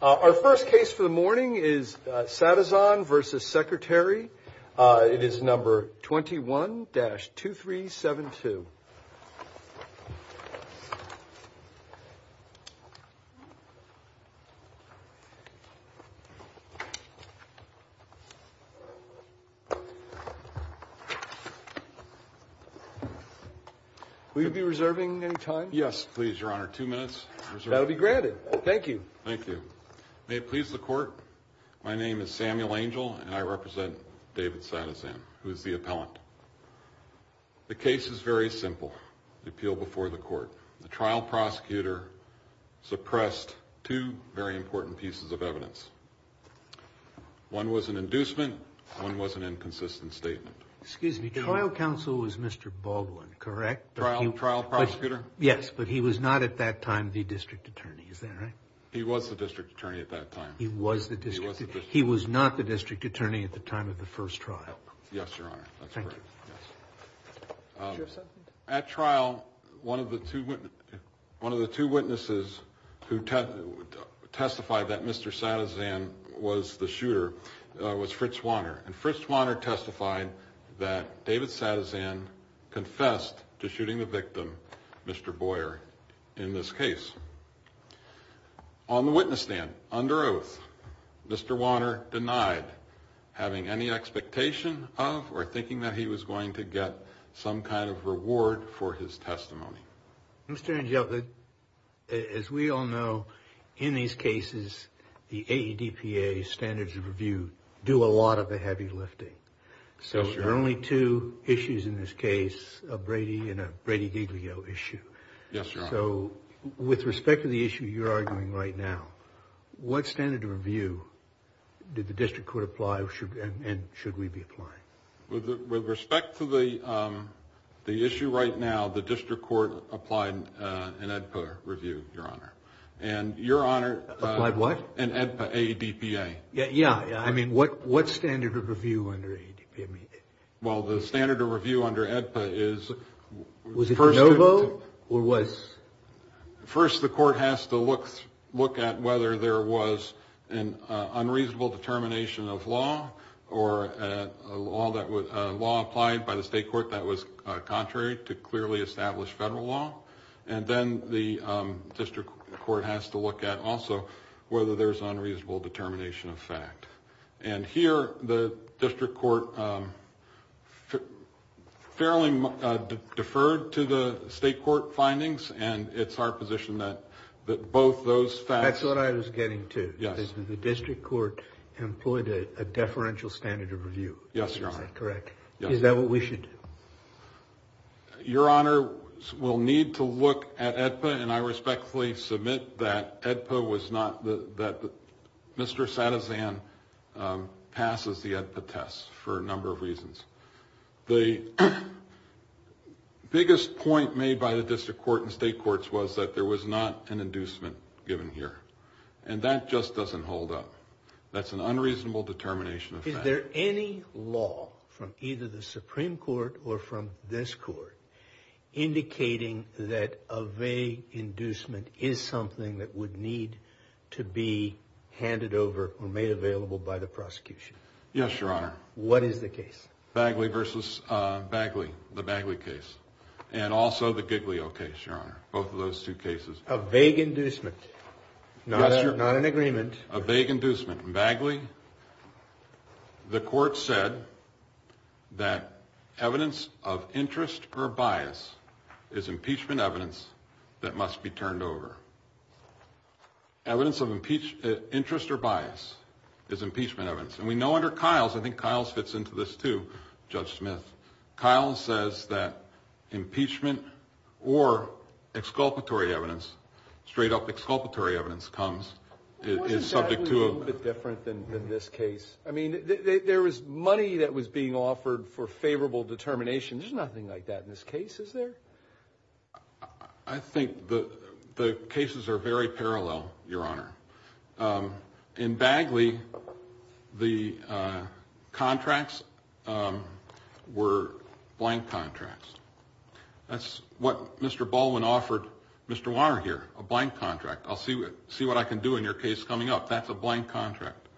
Our first case for the morning is Sattazahn v. Secretary. It is number 21-2372. Will you be reserving any time? Yes, please, Your Honor. Two minutes. That will be granted. Thank you. Thank you. May it please the Court, my name is Samuel Angel and I represent David Sattazahn, who is the appellant. The case is very simple. The appeal before the Court. The trial prosecutor suppressed two very important pieces of evidence. One was an inducement, one was an inconsistent statement. Excuse me, trial counsel was Mr. Baldwin, correct? Trial prosecutor? Yes, but he was not at that time the District Attorney, is that right? He was the District Attorney at that time. He was the District Attorney. He was not the District Attorney at the time of the first trial. Yes, Your Honor. That's correct. Thank you. At trial, one of the two witnesses who testified that Mr. Sattazahn was the shooter was Fritz Swanner. And Fritz Swanner testified that David Sattazahn confessed to shooting the victim, Mr. Boyer, in this case. On the witness stand, under oath, Mr. Swanner denied having any expectation of or thinking that he was going to get some kind of reward for his testimony. Mr. Angel, as we all know, in these cases, the AEDPA standards of review do a lot of the heavy lifting. So there are only two issues in this case, a Brady and a Brady-Diglio issue. Yes, Your Honor. So with respect to the issue you're arguing right now, what standard of review did the District Court apply and should we be applying? With respect to the issue right now, the District Court applied an AEDPA review, Your Honor. And Your Honor— Applied what? An AEDPA, A-E-D-P-A. Yeah, I mean, what standard of review under AEDPA? Well, the standard of review under AEDPA is— Was it a no vote or was— A law applied by the State Court that was contrary to clearly established federal law. And then the District Court has to look at also whether there's unreasonable determination of fact. And here, the District Court fairly deferred to the State Court findings, and it's our position that both those facts— That's what I was getting to. Yes. The District Court employed a deferential standard of review. Yes, Your Honor. Is that correct? Yes. Is that what we should do? Your Honor, we'll need to look at AEDPA, and I respectfully submit that AEDPA was not—that Mr. Sadezan passes the AEDPA test for a number of reasons. The biggest point made by the District Court and State Courts was that there was not an inducement given here. And that just doesn't hold up. That's an unreasonable determination of fact. Is there any law from either the Supreme Court or from this Court indicating that a vague inducement is something that would need to be handed over or made available by the prosecution? Yes, Your Honor. What is the case? Bagley v. Bagley, the Bagley case, and also the Giglio case, Your Honor, both of those two cases. A vague inducement. Not an agreement. A vague inducement. In Bagley, the Court said that evidence of interest or bias is impeachment evidence that must be turned over. Evidence of interest or bias is impeachment evidence. And we know under Kiles—I think Kiles fits into this, too, Judge Smith—Kiles says that impeachment or exculpatory evidence, straight-up exculpatory evidence, comes. Isn't Bagley a little bit different than this case? I mean, there was money that was being offered for favorable determination. There's nothing like that in this case, is there? I think the cases are very parallel, Your Honor. In Bagley, the contracts were blank contracts. That's what Mr. Baldwin offered Mr. Warner here, a blank contract. I'll see what I can do in your case coming up. That's a blank contract.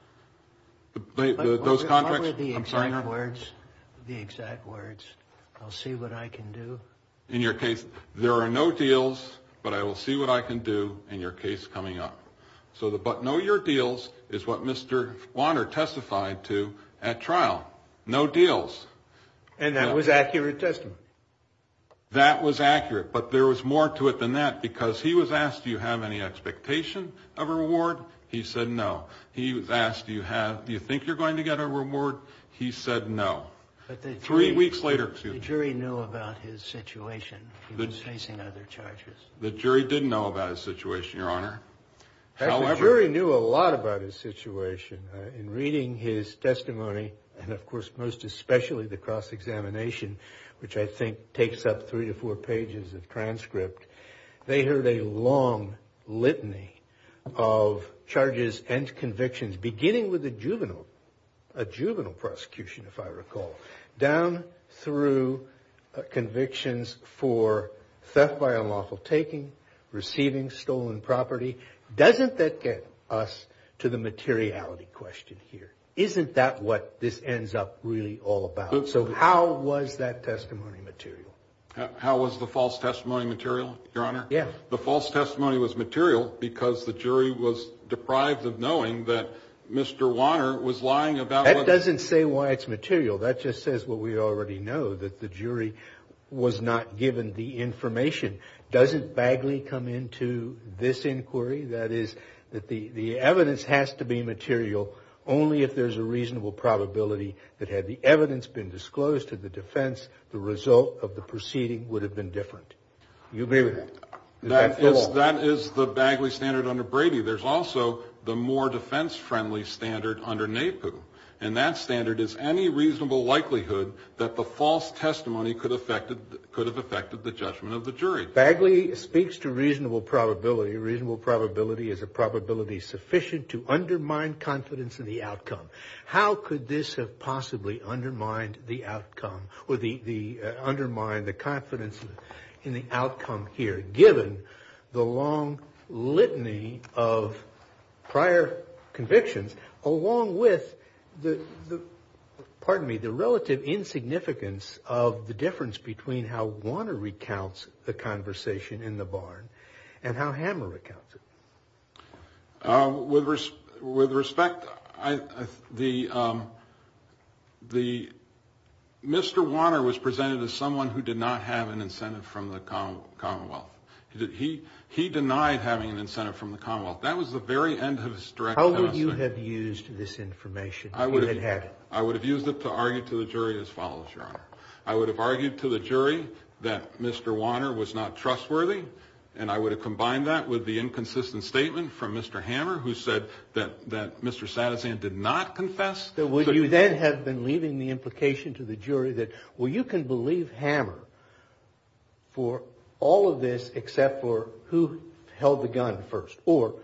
Those contracts— What were the exact words? I'm sorry? The exact words, I'll see what I can do? In your case, there are no deals, but I will see what I can do in your case coming up. So the but no your deals is what Mr. Warner testified to at trial. No deals. And that was accurate testimony? That was accurate, but there was more to it than that, because he was asked, do you have any expectation of a reward? He said no. He was asked, do you think you're going to get a reward? He said no. But the jury— Three weeks later, excuse me. The jury knew about his situation. He was facing other charges. The jury didn't know about his situation, Your Honor. Actually, the jury knew a lot about his situation. In reading his testimony, and of course most especially the cross-examination, which I think takes up three to four pages of transcript, they heard a long litany of charges and convictions, beginning with a juvenile prosecution, if I recall, down through convictions for theft by unlawful taking, receiving stolen property. Doesn't that get us to the materiality question here? Isn't that what this ends up really all about? So how was that testimony material? How was the false testimony material, Your Honor? The false testimony was material because the jury was deprived of knowing that Mr. Wanner was lying about what— That doesn't say why it's material. That just says what we already know, that the jury was not given the information. Doesn't Bagley come into this inquiry? That is, the evidence has to be material only if there's a reasonable probability that had the evidence been disclosed to the defense, the result of the proceeding would have been different. You agree with that? That is the Bagley standard under Brady. There's also the more defense-friendly standard under NAPU, and that standard is any reasonable likelihood that the false testimony could have affected the judgment of the jury. Bagley speaks to reasonable probability. Reasonable probability is a probability sufficient to undermine confidence in the outcome. How could this have possibly undermined the outcome or undermined the confidence in the outcome here, given the long litany of prior convictions, along with the relative insignificance of the difference between how Wanner recounts the conversation in the barn and how Hammer recounts it? With respect, Mr. Wanner was presented as someone who did not have an incentive from the Commonwealth. He denied having an incentive from the Commonwealth. That was the very end of his direct testimony. How would you have used this information if you had had it? I would have used it to argue to the jury as follows, Your Honor. I would have argued to the jury that Mr. Wanner was not trustworthy, and I would have combined that with the inconsistent statement from Mr. Hammer, who said that Mr. Sadasan did not confess. Would you then have been leaving the implication to the jury that, well, you can believe Hammer for all of this except for who held the gun first, or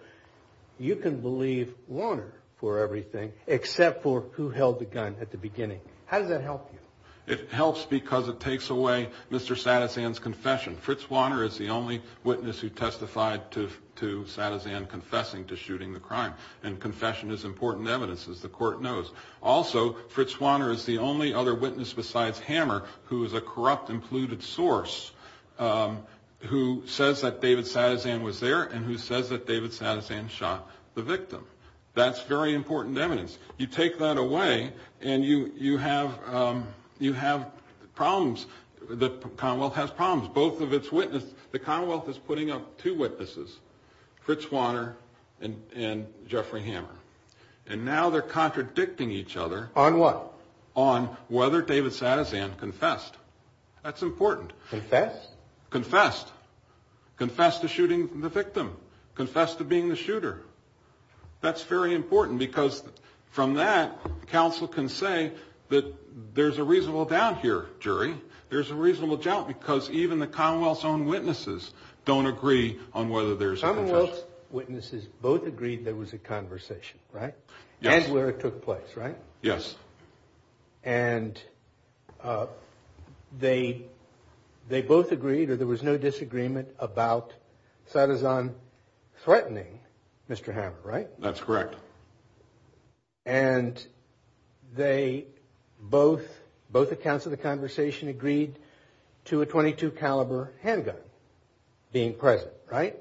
you can believe Wanner for everything except for who held the gun at the beginning? How does that help you? It helps because it takes away Mr. Sadasan's confession. Fritz Wanner is the only witness who testified to Sadasan confessing to shooting the crime, and confession is important evidence, as the Court knows. Also, Fritz Wanner is the only other witness besides Hammer, who is a corrupt and polluted source, who says that David Sadasan was there and who says that David Sadasan shot the victim. That's very important evidence. You take that away and you have problems. The Commonwealth has problems, both of its witnesses. The Commonwealth is putting up two witnesses, Fritz Wanner and Jeffrey Hammer, and now they're contradicting each other. On what? On whether David Sadasan confessed. That's important. Confessed? Confessed. Confessed to shooting the victim. Confessed to being the shooter. That's very important because from that, counsel can say that there's a reasonable doubt here, jury. There's a reasonable doubt because even the Commonwealth's own witnesses don't agree on whether there's a confession. Commonwealth's witnesses both agreed there was a conversation, right? Yes. And where it took place, right? Yes. And they both agreed or there was no disagreement about Sadasan threatening Mr. Hammer, right? That's correct. And they both, both accounts of the conversation agreed to a .22 caliber handgun being present, right?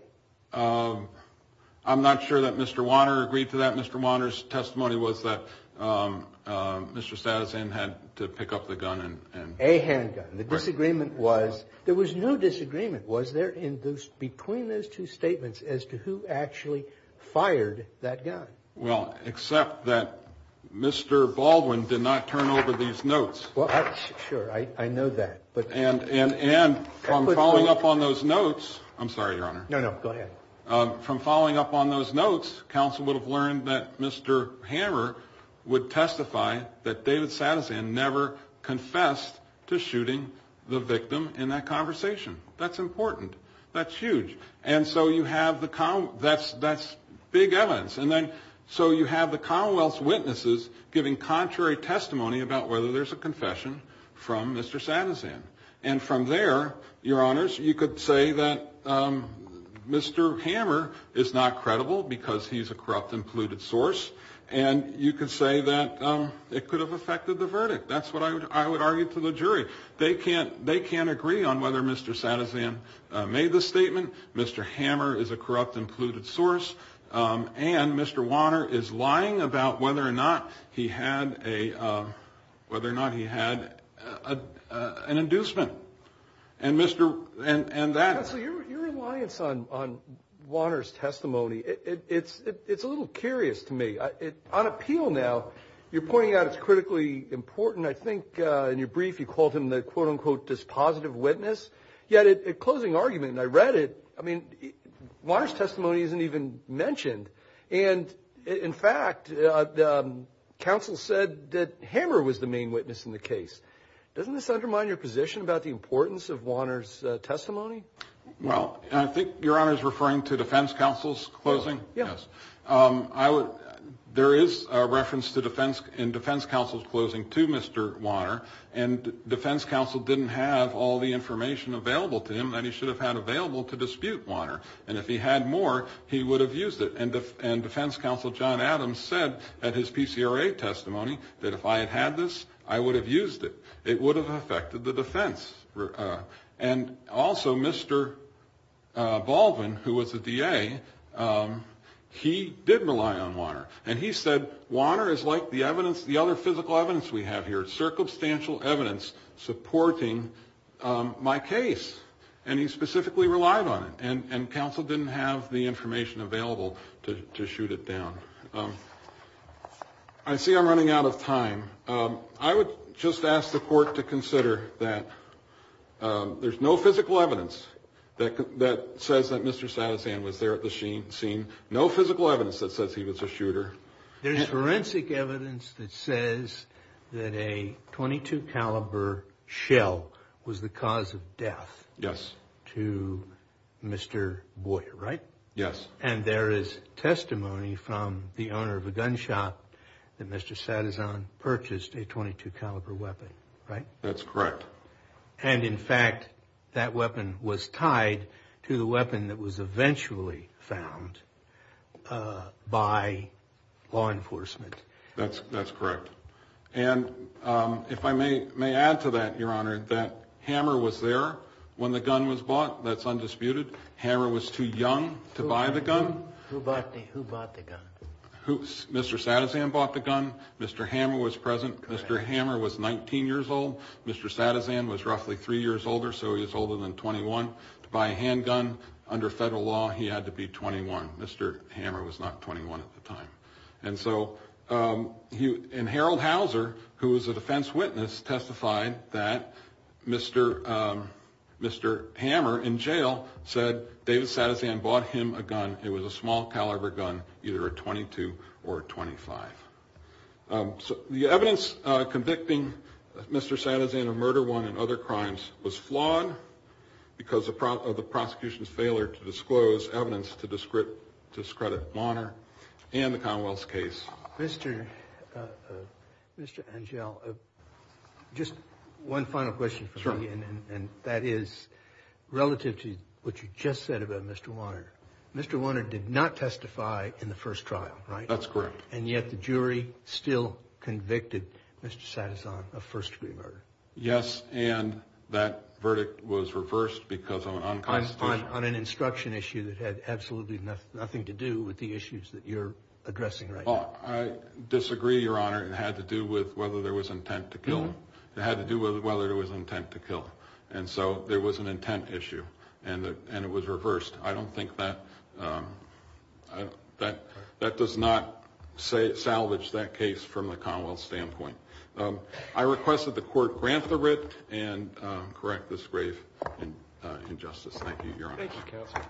I'm not sure that Mr. Wanner agreed to that. Mr. Wanner's testimony was that Mr. Sadasan had to pick up the gun and- A handgun. Right. The disagreement was, there was no disagreement. Was there in those, between those two statements as to who actually fired that gun? Well, except that Mr. Baldwin did not turn over these notes. Well, sure, I know that. And from following up on those notes, I'm sorry, Your Honor. No, no, go ahead. From following up on those notes, counsel would have learned that Mr. Hammer would testify that David Sadasan never confessed to shooting the victim in that conversation. That's important. That's huge. And so you have the, that's big evidence. And then, so you have the Commonwealth's witnesses giving contrary testimony about whether there's a confession from Mr. Sadasan. And from there, Your Honors, you could say that Mr. Hammer is not credible because he's a corrupt and polluted source. And you could say that it could have affected the verdict. That's what I would argue to the jury. They can't, they can't agree on whether Mr. Sadasan made the statement. Mr. Hammer is a corrupt and polluted source. And Mr. Wanner is lying about whether or not he had a, whether or not he had an inducement. And Mr., and that. Counsel, your reliance on Wanner's testimony, it's a little curious to me. On appeal now, you're pointing out it's critically important. I think in your brief you called him the, quote, unquote, dispositive witness. Yet at closing argument, and I read it, I mean, Wanner's testimony isn't even mentioned. And, in fact, counsel said that Hammer was the main witness in the case. Doesn't this undermine your position about the importance of Wanner's testimony? Well, I think Your Honor is referring to defense counsel's closing? Yes. I would, there is a reference to defense, in defense counsel's closing to Mr. Wanner. And defense counsel didn't have all the information available to him that he should have had available to dispute Wanner. And if he had more, he would have used it. And defense counsel John Adams said at his PCRA testimony that if I had had this, I would have used it. It would have affected the defense. And also Mr. Baldwin, who was a DA, he did rely on Wanner. And he said, Wanner is like the evidence, the other physical evidence we have here. Circumstantial evidence supporting my case. And he specifically relied on it. And counsel didn't have the information available to shoot it down. I see I'm running out of time. I would just ask the court to consider that there's no physical evidence that says that Mr. Sadasan was there at the scene. No physical evidence that says he was a shooter. There's forensic evidence that says that a .22 caliber shell was the cause of death to Mr. Boyer, right? Yes. And there is testimony from the owner of a gun shop that Mr. Sadasan purchased a .22 caliber weapon, right? That's correct. And in fact, that weapon was tied to the weapon that was eventually found by law enforcement. That's correct. And if I may add to that, Your Honor, that Hammer was there when the gun was bought. That's undisputed. Hammer was too young to buy the gun. Who bought the gun? Mr. Sadasan bought the gun. Mr. Hammer was present. Mr. Hammer was 19 years old. Mr. Sadasan was roughly three years older, so he was older than 21. To buy a handgun under federal law, he had to be 21. Mr. Hammer was not 21 at the time. And so Harold Hauser, who was a defense witness, testified that Mr. Hammer in jail said David Sadasan bought him a gun. It was a small caliber gun, either a .22 or a .25. The evidence convicting Mr. Sadasan of murder one and other crimes was flawed because of the prosecution's failure to disclose evidence to discredit Wanner and the Commonwealth's case. Mr. Angell, just one final question for me, and that is relative to what you just said about Mr. Wanner. Mr. Wanner did not testify in the first trial, right? That's correct. And yet the jury still convicted Mr. Sadasan of first-degree murder. Yes, and that verdict was reversed because of an unconstitutional… On an instruction issue that had absolutely nothing to do with the issues that you're addressing right now. Well, I disagree, Your Honor. It had to do with whether there was intent to kill him. It had to do with whether there was intent to kill him. And so there was an intent issue, and it was reversed. I don't think that does not salvage that case from the Commonwealth's standpoint. I request that the Court grant the writ and correct this grave injustice. Thank you, Your Honor. Thank you, Counsel.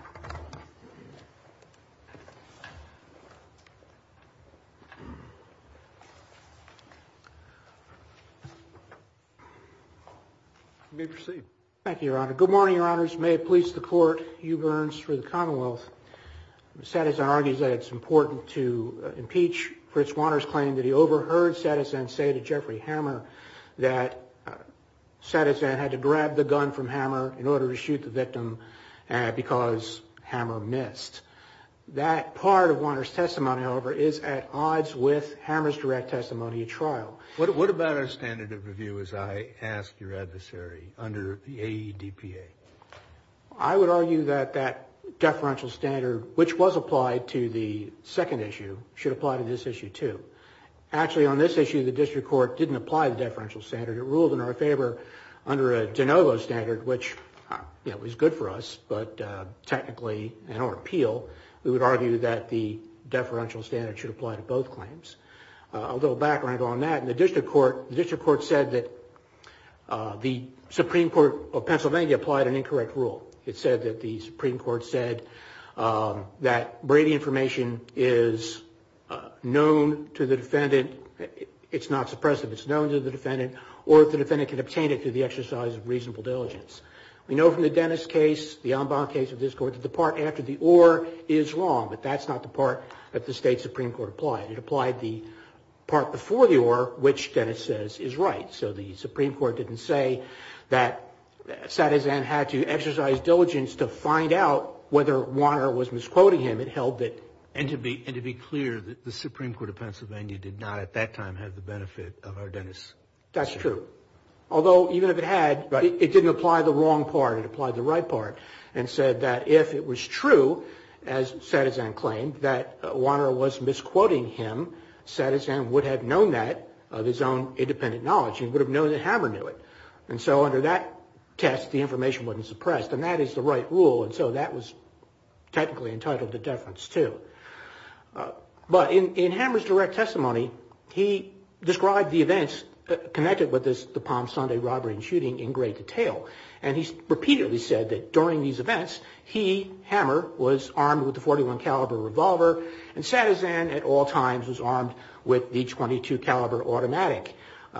You may proceed. Thank you, Your Honor. Good morning, Your Honors. May it please the Court. Hugh Burns for the Commonwealth. Sadasan argues that it's important to impeach Fritz Wanner's claim that he overheard Sadasan say to Jeffrey Hammer that Sadasan had to grab the gun from Hammer in order to shoot the victim because Hammer missed. That part of Wanner's testimony, however, is at odds with Hammer's direct testimony at trial. What about our standard of review, as I ask your adversary, under the AEDPA? I would argue that that deferential standard, which was applied to the second issue, should apply to this issue, too. Actually, on this issue, the District Court didn't apply the deferential standard. It ruled in our favor under a de novo standard, which was good for us, but technically, in our appeal, we would argue that the deferential standard should apply to both claims. A little background on that. In the District Court, the District Court said that the Supreme Court of Pennsylvania applied an incorrect rule. It said that the Supreme Court said that Brady information is known to the defendant. It's not suppressive. It's known to the defendant, or if the defendant can obtain it through the exercise of reasonable diligence. We know from the Dennis case, the en banc case of this Court, that the part after the or is wrong, but that's not the part that the State Supreme Court applied. It applied the part before the or, which Dennis says is right. So the Supreme Court didn't say that Sadezan had to exercise diligence to find out whether Wanner was misquoting him. It held that. And to be clear, the Supreme Court of Pennsylvania did not at that time have the benefit of our Dennis case. That's true. Although, even if it had, it didn't apply the wrong part. It applied the right part and said that if it was true, as Sadezan claimed, that Wanner was misquoting him, Sadezan would have known that of his own independent knowledge. He would have known that Hammer knew it. And so under that test, the information wasn't suppressed. And that is the right rule. And so that was technically entitled to deference too. But in Hammer's direct testimony, he described the events connected with the Palm Sunday robbery and shooting in great detail. And he repeatedly said that during these events, he, Hammer, was armed with a .41 caliber revolver, and Sadezan at all times was armed with the .22 caliber automatic.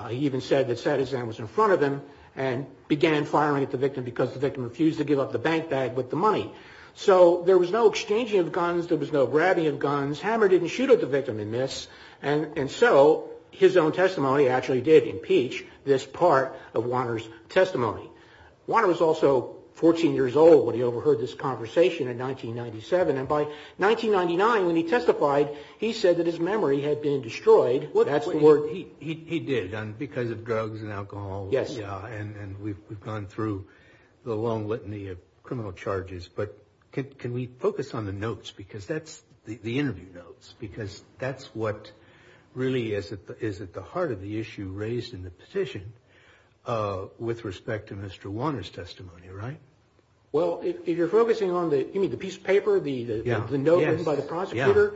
He even said that Sadezan was in front of him and began firing at the victim because the victim refused to give up the bank bag with the money. So there was no exchanging of guns. There was no grabbing of guns. Hammer didn't shoot at the victim in this. And so his own testimony actually did impeach this part of Wanner's testimony. Wanner was also 14 years old when he overheard this conversation in 1997. And by 1999, when he testified, he said that his memory had been destroyed. That's the word. He did because of drugs and alcohol. Yes. And we've gone through the long litany of criminal charges. But can we focus on the notes? Because that's the interview notes. Because that's what really is at the heart of the issue raised in the petition with respect to Mr. Wanner's testimony, right? Well, if you're focusing on the piece of paper, the note written by the prosecutor.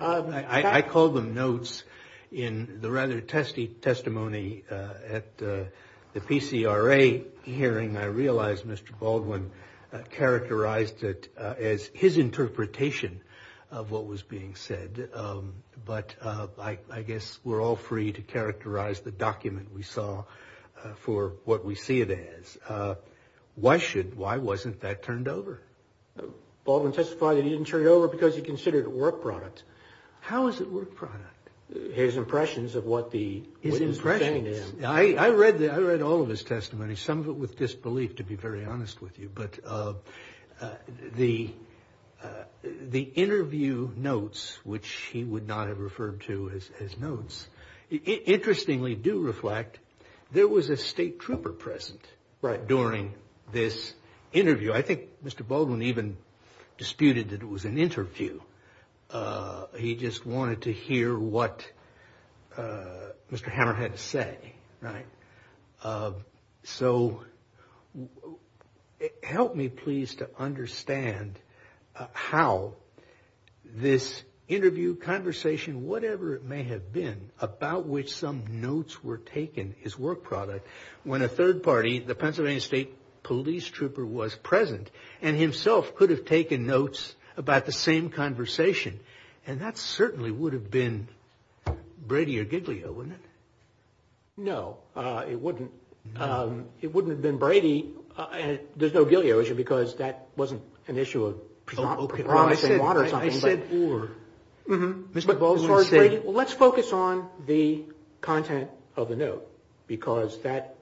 I call them notes. In the rather testy testimony at the PCRA hearing, I realized Mr. Baldwin characterized it as his interpretation of what was being said. But I guess we're all free to characterize the document we saw for what we see it as. Why wasn't that turned over? Baldwin testified that he didn't turn it over because he considered it work product. How is it work product? His impressions of what the witness was saying to him. I read all of his testimony, some of it with disbelief, to be very honest with you. But the interview notes, which he would not have referred to as notes, interestingly do reflect there was a state trooper present during this interview. I think Mr. Baldwin even disputed that it was an interview. He just wanted to hear what Mr. Hammer had to say, right? So help me please to understand how this interview conversation, whatever it may have been, about which some notes were taken, is work product. When a third party, the Pennsylvania State Police Trooper was present and himself could have taken notes about the same conversation. And that certainly would have been Brady or Giglio, wouldn't it? No, it wouldn't. It wouldn't have been Brady. There's no Giglio issue because that wasn't an issue of promising water or something. Let's focus on the content of the note because that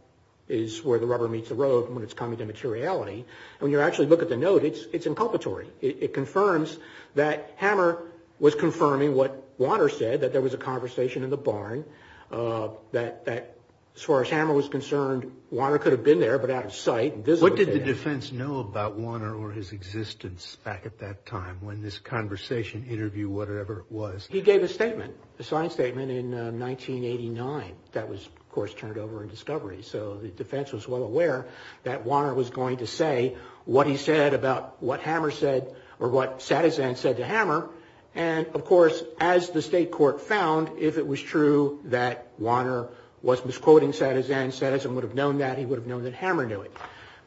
is where the rubber meets the road when it's coming to materiality. When you actually look at the note, it's inculpatory. It confirms that Hammer was confirming what Warner said, that there was a conversation in the barn. As far as Hammer was concerned, Warner could have been there but out of sight. What did the defense know about Warner or his existence back at that time when this conversation, interview, whatever it was? He gave a statement, a signed statement in 1989 that was, of course, turned over in discovery. So the defense was well aware that Warner was going to say what he said about what Hammer said or what Satizan said to Hammer. And, of course, as the state court found, if it was true that Warner was misquoting Satizan, Satizan would have known that. He would have known that Hammer knew it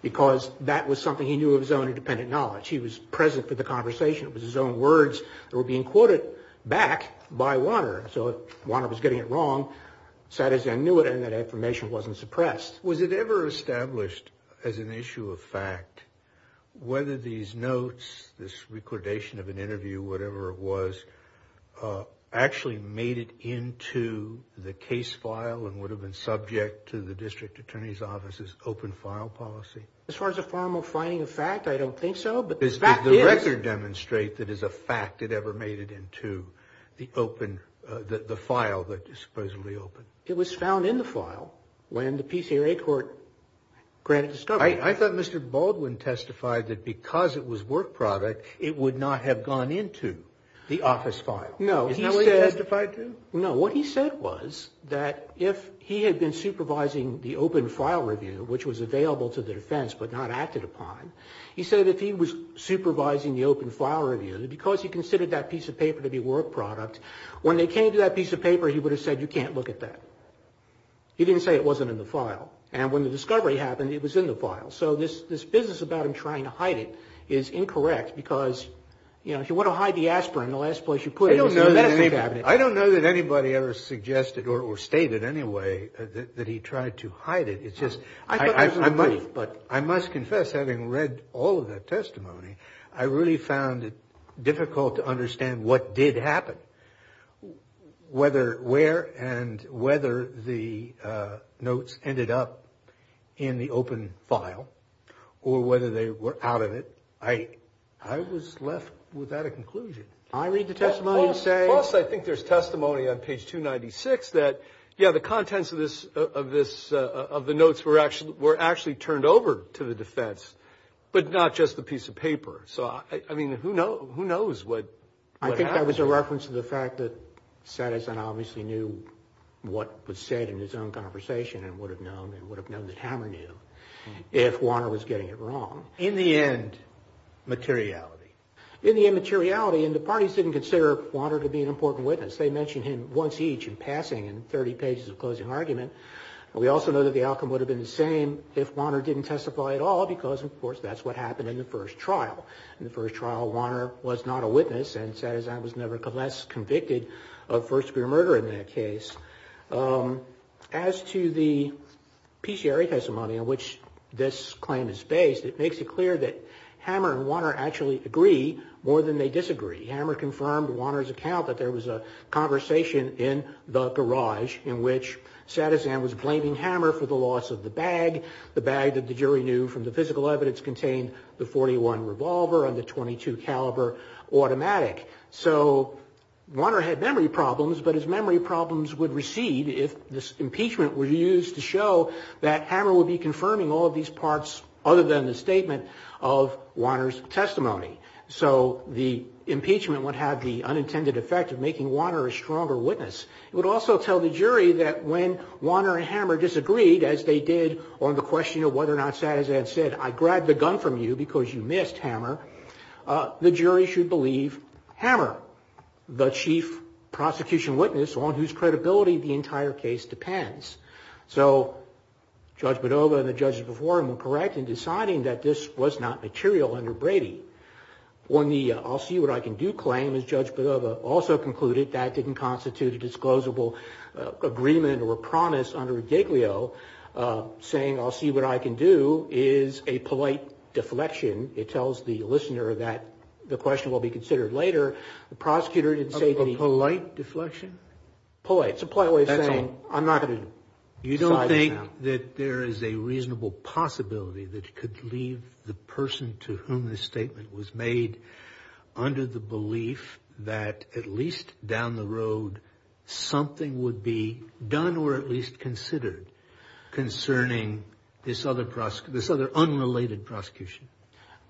because that was something he knew of his own independent knowledge. He was present for the conversation. It was his own words that were being quoted back by Warner. So if Warner was getting it wrong, Satizan knew it and that affirmation wasn't suppressed. Was it ever established as an issue of fact whether these notes, this recordation of an interview, whatever it was, actually made it into the case file and would have been subject to the district attorney's office's open file policy? As far as a formal finding of fact, I don't think so, but the fact is. Does the record demonstrate that as a fact it ever made it into the open, the file that is supposedly open? It was found in the file when the PCRA court granted discovery. I thought Mr. Baldwin testified that because it was work product, it would not have gone into the office file. No. Isn't that what he testified to? No. What he said was that if he had been supervising the open file review, which was available to the defense but not acted upon, he said if he was supervising the open file review, because he considered that piece of paper to be work product, when they came to that piece of paper, he would have said you can't look at that. He didn't say it wasn't in the file. And when the discovery happened, it was in the file. So this business about him trying to hide it is incorrect because, you know, if you want to hide the aspirin, the last place you put it is the medicine cabinet. I don't know that anybody ever suggested or stated anyway that he tried to hide it. It's just I must confess, having read all of that testimony, I really found it difficult to understand what did happen. Whether where and whether the notes ended up in the open file or whether they were out of it, I was left without a conclusion. I read the testimony and say. Plus, I think there's testimony on page 296 that, yeah, the contents of the notes were actually turned over to the defense, but not just the piece of paper. So, I mean, who knows what happened? I think that was a reference to the fact that Satterson obviously knew what was said in his own conversation and would have known and would have known that Hammer knew if Wanner was getting it wrong. In the end, materiality. In the end, materiality. And the parties didn't consider Wanner to be an important witness. They mentioned him once each in passing in 30 pages of closing argument. We also know that the outcome would have been the same if Wanner didn't testify at all because, of course, that's what happened in the first trial. In the first trial, Wanner was not a witness and Satterson was nevertheless convicted of first degree murder in that case. As to the PCRA testimony in which this claim is based, it makes it clear that Hammer and Wanner actually agree more than they disagree. Hammer confirmed Wanner's account that there was a conversation in the garage in which Satterson was blaming Hammer for the loss of the bag, the bag that the jury knew from the physical evidence contained the .41 revolver and the .22 caliber automatic. So Wanner had memory problems, but his memory problems would recede if this impeachment were used to show that Hammer would be confirming all of these parts other than the statement of Wanner's testimony. So the impeachment would have the unintended effect of making Wanner a stronger witness. It would also tell the jury that when Wanner and Hammer disagreed, as they did on the question of whether or not Satterson had said, I grabbed the gun from you because you missed, Hammer, the jury should believe Hammer, the chief prosecution witness on whose credibility the entire case depends. So Judge Badova and the judges before him were correct in deciding that this was not material under Brady. On the I'll see what I can do claim, as Judge Badova also concluded, that didn't constitute a disclosable agreement or promise under Giglio, saying I'll see what I can do is a polite deflection. It tells the listener that the question will be considered later. The prosecutor didn't say that he – A polite deflection? Polite. You don't think that there is a reasonable possibility that it could leave the person to whom this statement was made under the belief that at least down the road something would be done or at least considered concerning this other unrelated prosecution?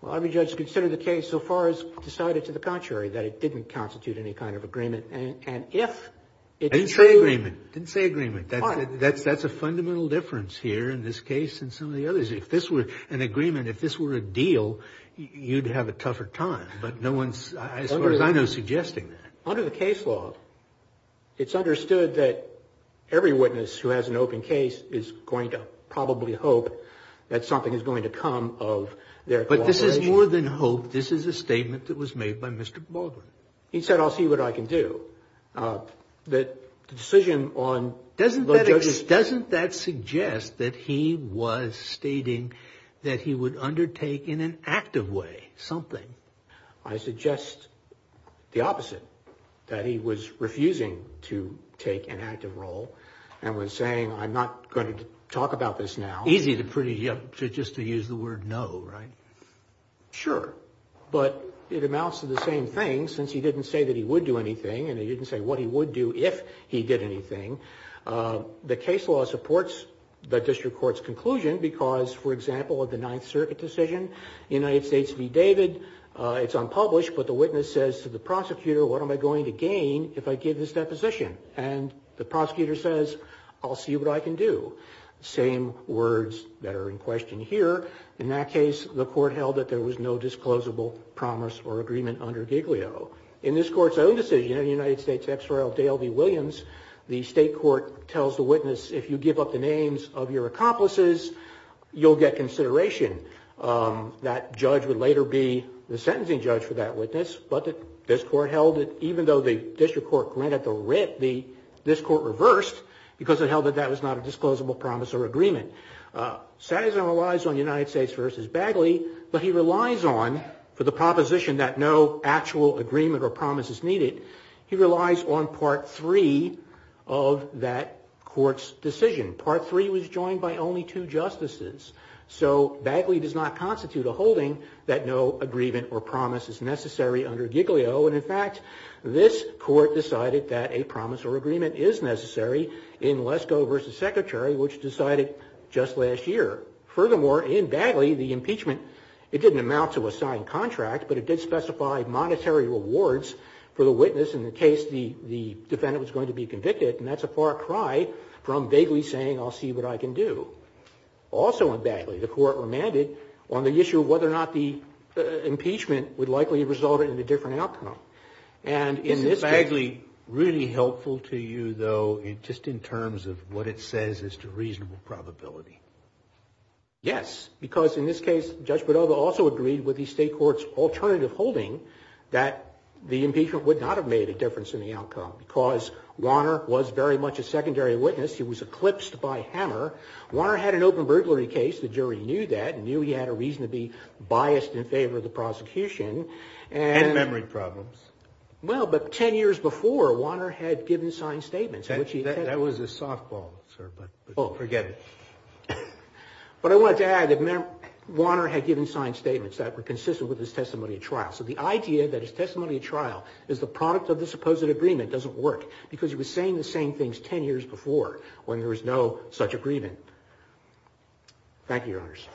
Well, every judge considered the case so far as decided to the contrary that it didn't constitute any kind of agreement. And if it's true – Didn't say agreement. Didn't say agreement. That's a fundamental difference here in this case and some of the others. If this were an agreement, if this were a deal, you'd have a tougher time. But no one's, as far as I know, suggesting that. Under the case law, it's understood that every witness who has an open case is going to probably hope that something is going to come of their – But this is more than hope. This is a statement that was made by Mr. Baldwin. He said, I'll see what I can do. The decision on – Doesn't that suggest that he was stating that he would undertake in an active way something? I suggest the opposite, that he was refusing to take an active role and was saying, I'm not going to talk about this now. Easy to – just to use the word no, right? Sure. But it amounts to the same thing, since he didn't say that he would do anything and he didn't say what he would do if he did anything. The case law supports the district court's conclusion because, for example, of the Ninth Circuit decision, United States v. David, it's unpublished, but the witness says to the prosecutor, what am I going to gain if I give this deposition? And the prosecutor says, I'll see what I can do. Same words that are in question here. In that case, the court held that there was no disclosable promise or agreement under Giglio. In this court's own decision, United States v. Dale v. Williams, the state court tells the witness, if you give up the names of your accomplices, you'll get consideration. That judge would later be the sentencing judge for that witness, but this court held that even though the district court granted the writ, this court reversed because it held that that was not a disclosable promise or agreement. Sazer relies on United States v. Bagley, but he relies on, for the proposition that no actual agreement or promise is needed, he relies on Part III of that court's decision. Part III was joined by only two justices. So Bagley does not constitute a holding that no agreement or promise is necessary under Giglio. And in fact, this court decided that a promise or agreement is necessary in Lesko v. Secretary, which decided just last year. Furthermore, in Bagley, the impeachment, it didn't amount to a signed contract, but it did specify monetary rewards for the witness in the case the defendant was going to be convicted, and that's a far cry from vaguely saying, I'll see what I can do. Also in Bagley, the court remanded on the issue of whether or not the impeachment would likely result in a different outcome. And in this case... Is Bagley really helpful to you, though, just in terms of what it says as to reasonable probability? Yes, because in this case, Judge Badova also agreed with the state court's alternative holding that the impeachment would not have made a difference in the outcome, because Wanner was very much a secondary witness. He was eclipsed by Hammer. Wanner had an open burglary case. The jury knew that and knew he had a reason to be biased in favor of the prosecution. And memory problems. Well, but ten years before, Wanner had given signed statements. That was a softball, sir, but forget it. But I wanted to add that Wanner had given signed statements that were consistent with his testimony at trial. So the idea that his testimony at trial is the product of the supposed agreement doesn't work, because he was saying the same things ten years before when there was no such agreement. Thank you, Your Honors.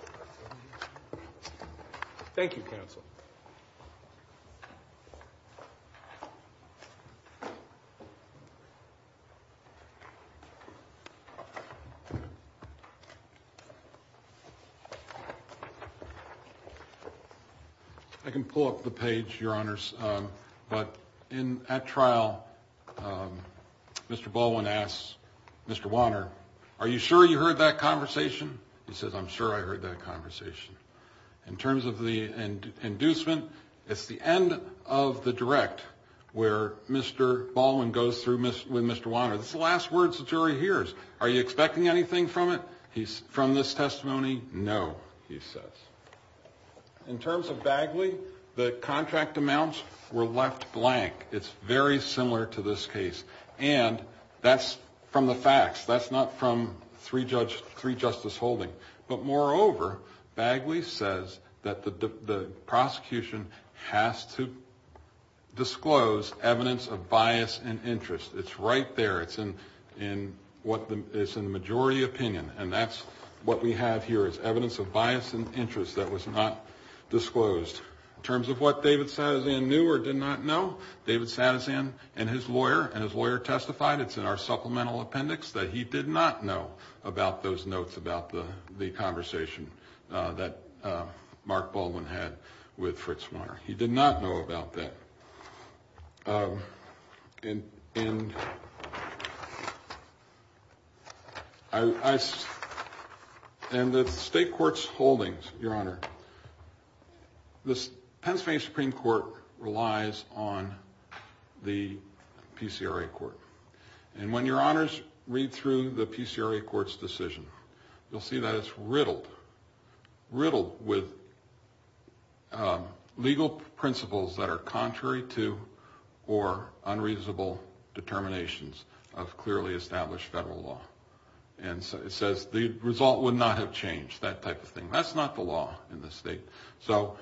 Thank you, counsel. I can pull up the page, Your Honors, but at trial, Mr. Baldwin asks Mr. Wanner, are you sure you heard that conversation? He says, I'm sure I heard that conversation. In terms of the inducement, it's the end of the direct where Mr. Baldwin goes through with Mr. Wanner. It's the last words the jury hears. Are you expecting anything from it, from this testimony? No, he says. In terms of Bagley, the contract amounts were left blank. It's very similar to this case. And that's from the facts. That's not from three-judge, three-justice holding. But, moreover, Bagley says that the prosecution has to disclose evidence of bias and interest. It's right there. It's in the majority opinion. And that's what we have here is evidence of bias and interest that was not disclosed. In terms of what David Satizan knew or did not know, David Satizan and his lawyer testified, it's in our supplemental appendix, that he did not know about those notes, about the conversation that Mark Baldwin had with Fritz Wanner. He did not know about that. In the state court's holdings, Your Honor, the Pennsylvania Supreme Court relies on the PCRA court. And when Your Honors read through the PCRA court's decision, you'll see that it's riddled, riddled with legal principles that are contrary to or unreasonable determinations of clearly established federal law. And it says the result would not have changed, that type of thing. That's not the law in this state. So,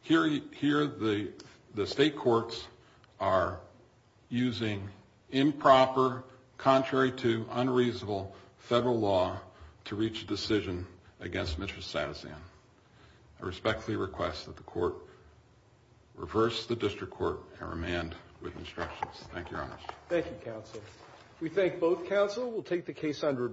here the state courts are using improper, contrary to, unreasonable federal law to reach a decision against Mr. Satizan. I respectfully request that the court reverse the district court and remand with instructions. Thank you, Your Honors. Thank you, counsel. We thank both counsel. We'll take the case under advisory.